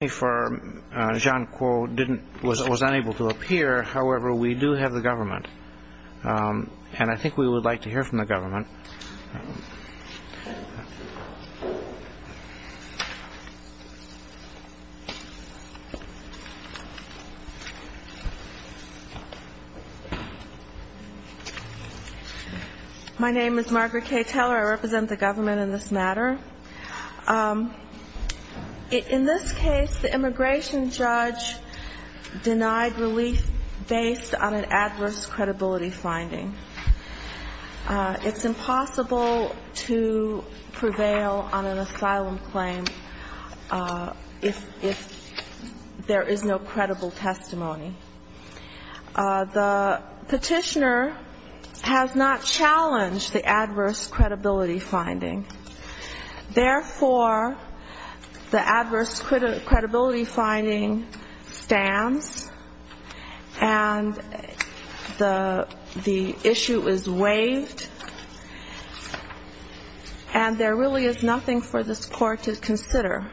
My name is Margaret K. Teller. I represent the government in this matter. In this case, the immigration judge denied relief based on an adverse credibility finding. It's impossible to prevail on an asylum claim if there is no credible testimony. The petitioner has not challenged the adverse credibility finding. Therefore, the adverse credibility finding stands, and the issue is waived, and there really is nothing for this court to consider.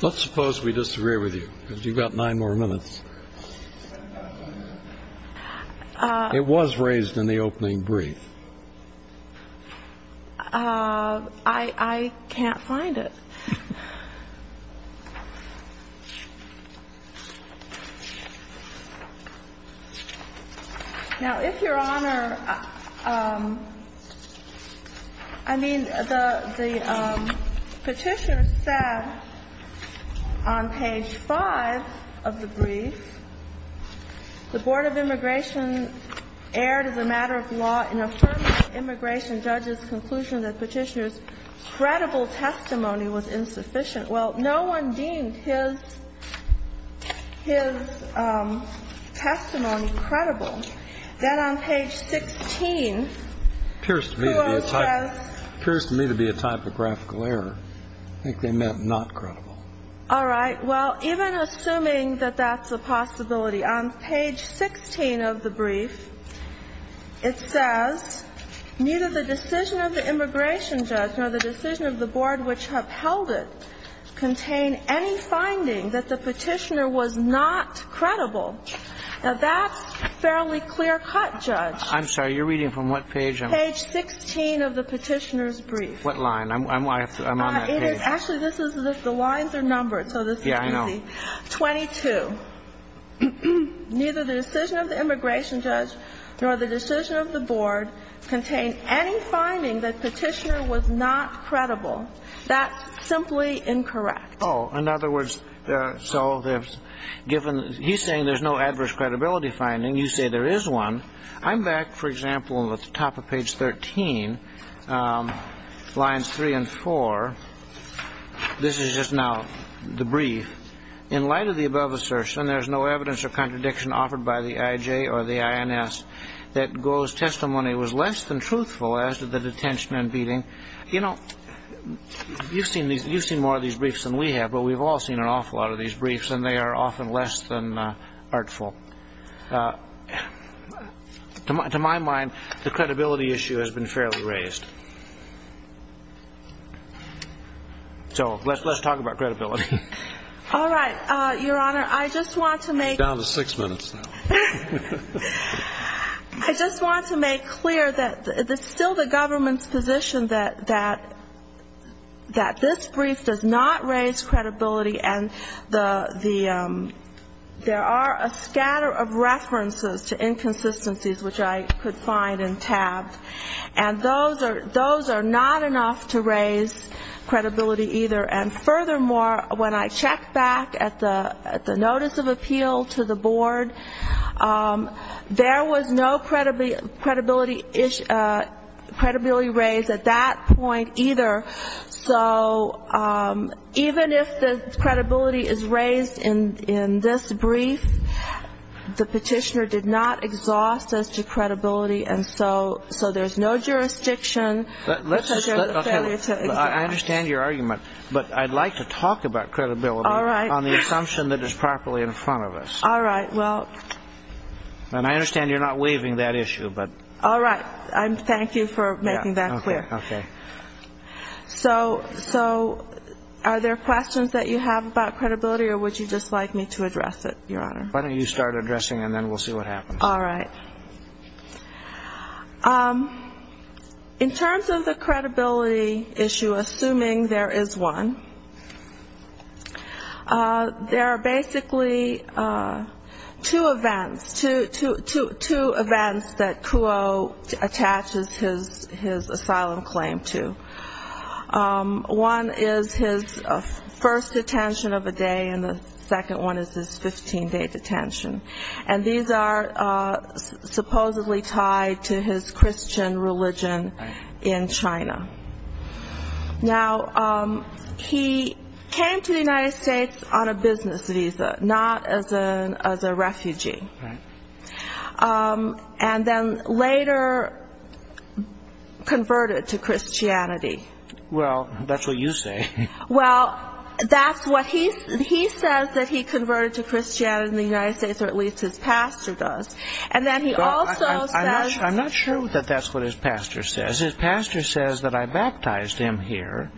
The court has not challenged the adverse credibility finding, and there really is nothing for this court to consider. The petitioner said on page 5 of the brief, the Board of Immigration erred as a matter of law in affirming the immigration judge's conclusion that Petitioner's credible testimony was insufficient. Well, no one deemed his testimony credible. Then on page 16, Puello says… It appears to me to be a typographical error. I think they meant not credible. All right. Well, even assuming that that's a possibility, on page 16 of the brief, it says, Neither the decision of the immigration judge nor the decision of the board which upheld it contain any finding that the petitioner was not credible. Now, that's fairly clear-cut, Judge. I'm sorry. You're reading from what page? Page 16 of the petitioner's brief. What line? I'm on that page. Actually, the lines are numbered, so this is easy. Yeah, I know. 22. Neither the decision of the immigration judge nor the decision of the board contain any finding that Petitioner was not credible. That's simply incorrect. Oh, in other words, so he's saying there's no adverse credibility finding. You say there is one. I'm back, for example, at the top of page 13, lines 3 and 4. This is just now the brief. In light of the above assertion, there is no evidence of contradiction offered by the IJ or the INS that Goel's testimony was less than truthful as to the detention and beating. You know, you've seen more of these briefs than we have, but we've all seen an awful lot of these briefs, and they are often less than artful. To my mind, the credibility issue has been fairly raised. So let's talk about credibility. All right, Your Honor, I just want to make clear that it's still the government's position that this brief does not raise credibility, and there are a scatter of references to inconsistencies which I could find and tab, and those are not enough to raise credibility either. And furthermore, when I checked back at the notice of appeal to the board, there was no credibility raised at that point either. So even if the credibility is raised in this brief, the petitioner did not exhaust us to credibility, and so there's no jurisdiction. I understand your argument, but I'd like to talk about credibility on the assumption that it's properly in front of us. All right, well. And I understand you're not waiving that issue, but. All right. Thank you for making that clear. Okay. So are there questions that you have about credibility, or would you just like me to address it, Your Honor? Why don't you start addressing, and then we'll see what happens. All right. In terms of the credibility issue, assuming there is one, there are basically two events, two events that Kuo attaches his asylum claim to. One is his first detention of a day, and the second one is his 15-day detention. And these are supposedly tied to his Christian religion in China. Now, he came to the United States on a business visa, not as a refugee, and then later converted to Christianity. Well, that's what you say. Well, that's what he says that he converted to Christianity in the United States, or at least his pastor does. And then he also says. I'm not sure that that's what his pastor says. His pastor says that I baptized him here,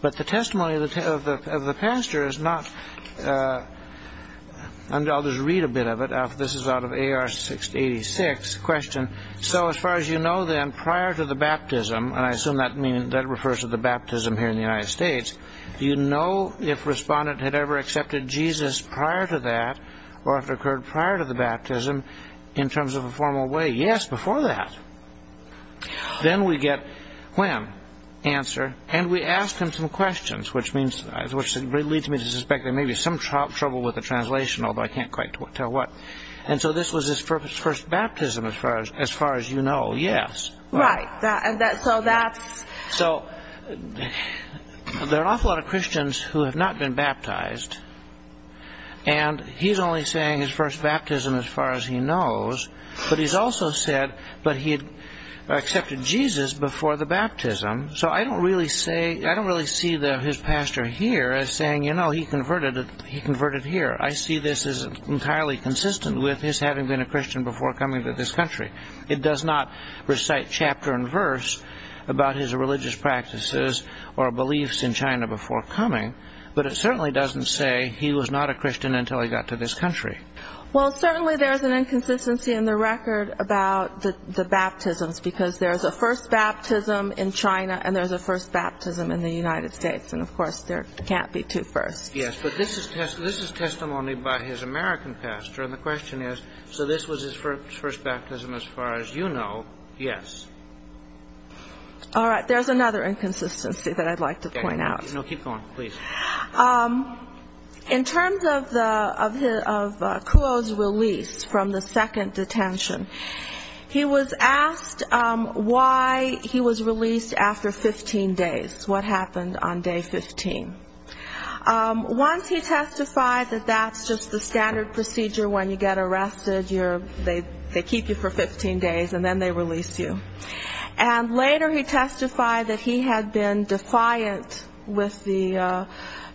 but the testimony of the pastor is not. I'll just read a bit of it. This is out of AR-86. So as far as you know then, prior to the baptism, and I assume that refers to the baptism here in the United States, do you know if Respondent had ever accepted Jesus prior to that, or if it occurred prior to the baptism, in terms of a formal way? Yes, before that. Then we get, when? Answer. And we ask him some questions, which leads me to suspect there may be some trouble with the translation, although I can't quite tell what. And so this was his first baptism, as far as you know. Yes. Right. So there are an awful lot of Christians who have not been baptized, and he's only saying his first baptism as far as he knows. But he's also said that he had accepted Jesus before the baptism. So I don't really see his pastor here as saying, you know, he converted here. I see this as entirely consistent with his having been a Christian before coming to this country. It does not recite chapter and verse about his religious practices or beliefs in China before coming, but it certainly doesn't say he was not a Christian until he got to this country. Well, certainly there's an inconsistency in the record about the baptisms, because there's a first baptism in China and there's a first baptism in the United States. And, of course, there can't be two firsts. Yes, but this is testimony by his American pastor, and the question is, so this was his first baptism as far as you know. Yes. All right. There's another inconsistency that I'd like to point out. No, keep going, please. In terms of Kuo's release from the second detention, he was asked why he was released after 15 days, what happened on day 15. Once he testified that that's just the standard procedure when you get arrested, they keep you for 15 days and then they release you. And later he testified that he had been defiant with the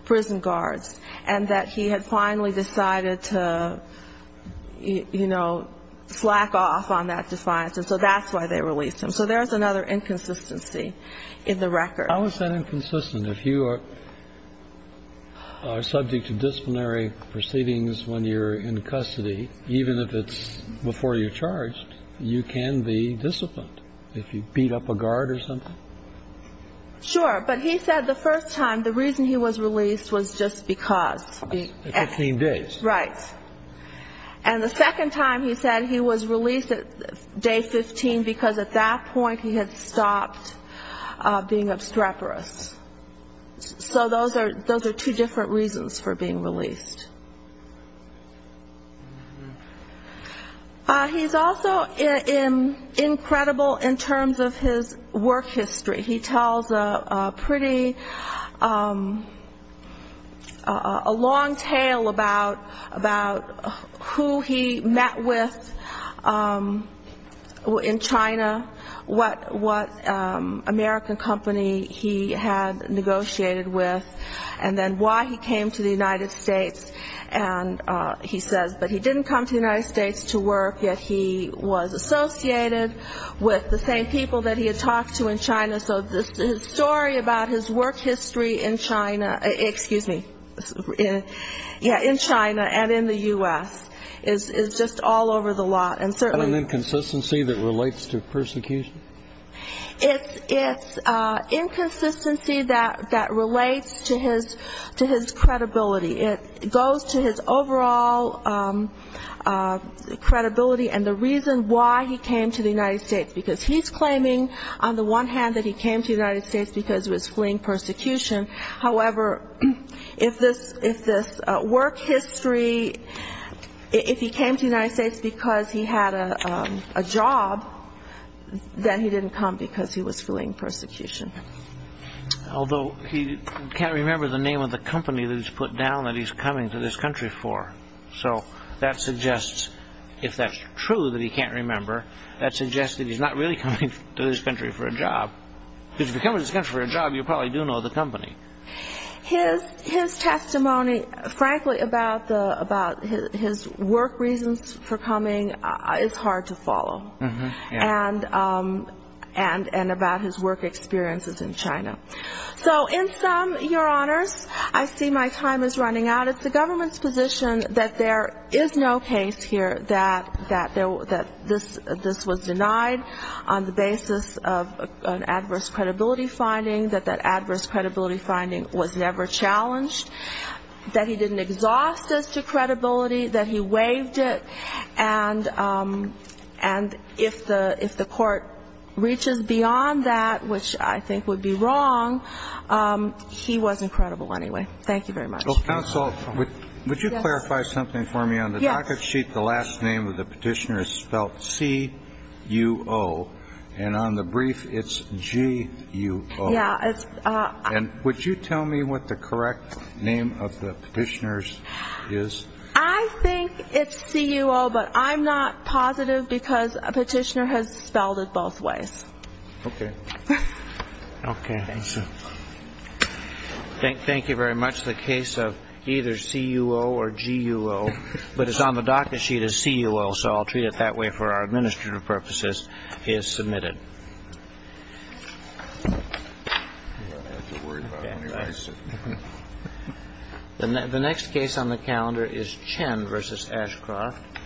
prison guards and that he had finally decided to, you know, slack off on that defiance, and so that's why they released him. So there's another inconsistency in the record. How is that inconsistent? If you are subject to disciplinary proceedings when you're in custody, even if it's before you're charged, you can be disciplined if you beat up a guard or something. Sure. But he said the first time the reason he was released was just because 15 days. And the second time he said he was released at day 15 because at that point he had stopped being obstreperous. So those are two different reasons for being released. He's also incredible in terms of his work history. He tells a pretty long tale about who he met with in China, what American company he had negotiated with, and then why he came to the United States. And he says, but he didn't come to the United States to work, yet he was associated with the same people that he had talked to in China. So the story about his work history in China and in the U.S. is just all over the lot. And an inconsistency that relates to persecution? It's inconsistency that relates to his credibility. It goes to his overall credibility and the reason why he came to the United States, because he's claiming on the one hand that he came to the United States because he was fleeing persecution. However, if this work history, if he came to the United States because he had a job, then he didn't come because he was fleeing persecution. Although he can't remember the name of the company that he's put down that he's coming to this country for. So that suggests, if that's true that he can't remember, that suggests that he's not really coming to this country for a job. Because if you come to this country for a job, you probably do know the company. His testimony, frankly, about his work reasons for coming is hard to follow. And about his work experiences in China. So in sum, Your Honors, I see my time is running out. It's the government's position that there is no case here that this was denied on the basis of an adverse credibility finding, that that adverse credibility finding was never challenged, that he didn't exhaust this to credibility, that he waived it. And if the court reaches beyond that, which I think would be wrong, he was incredible anyway. Thank you very much. Counsel, would you clarify something for me? On the docket sheet, the last name of the petitioner is spelled C-U-O. And on the brief, it's G-U-O. And would you tell me what the correct name of the petitioner is? I think it's C-U-O, but I'm not positive because a petitioner has spelled it both ways. Okay. Okay. Thank you very much. The case of either C-U-O or G-U-O, but it's on the docket sheet as C-U-O, so I'll treat it that way for our administrative purposes, is submitted. The next case on the calendar is Chen v. Ashcroft.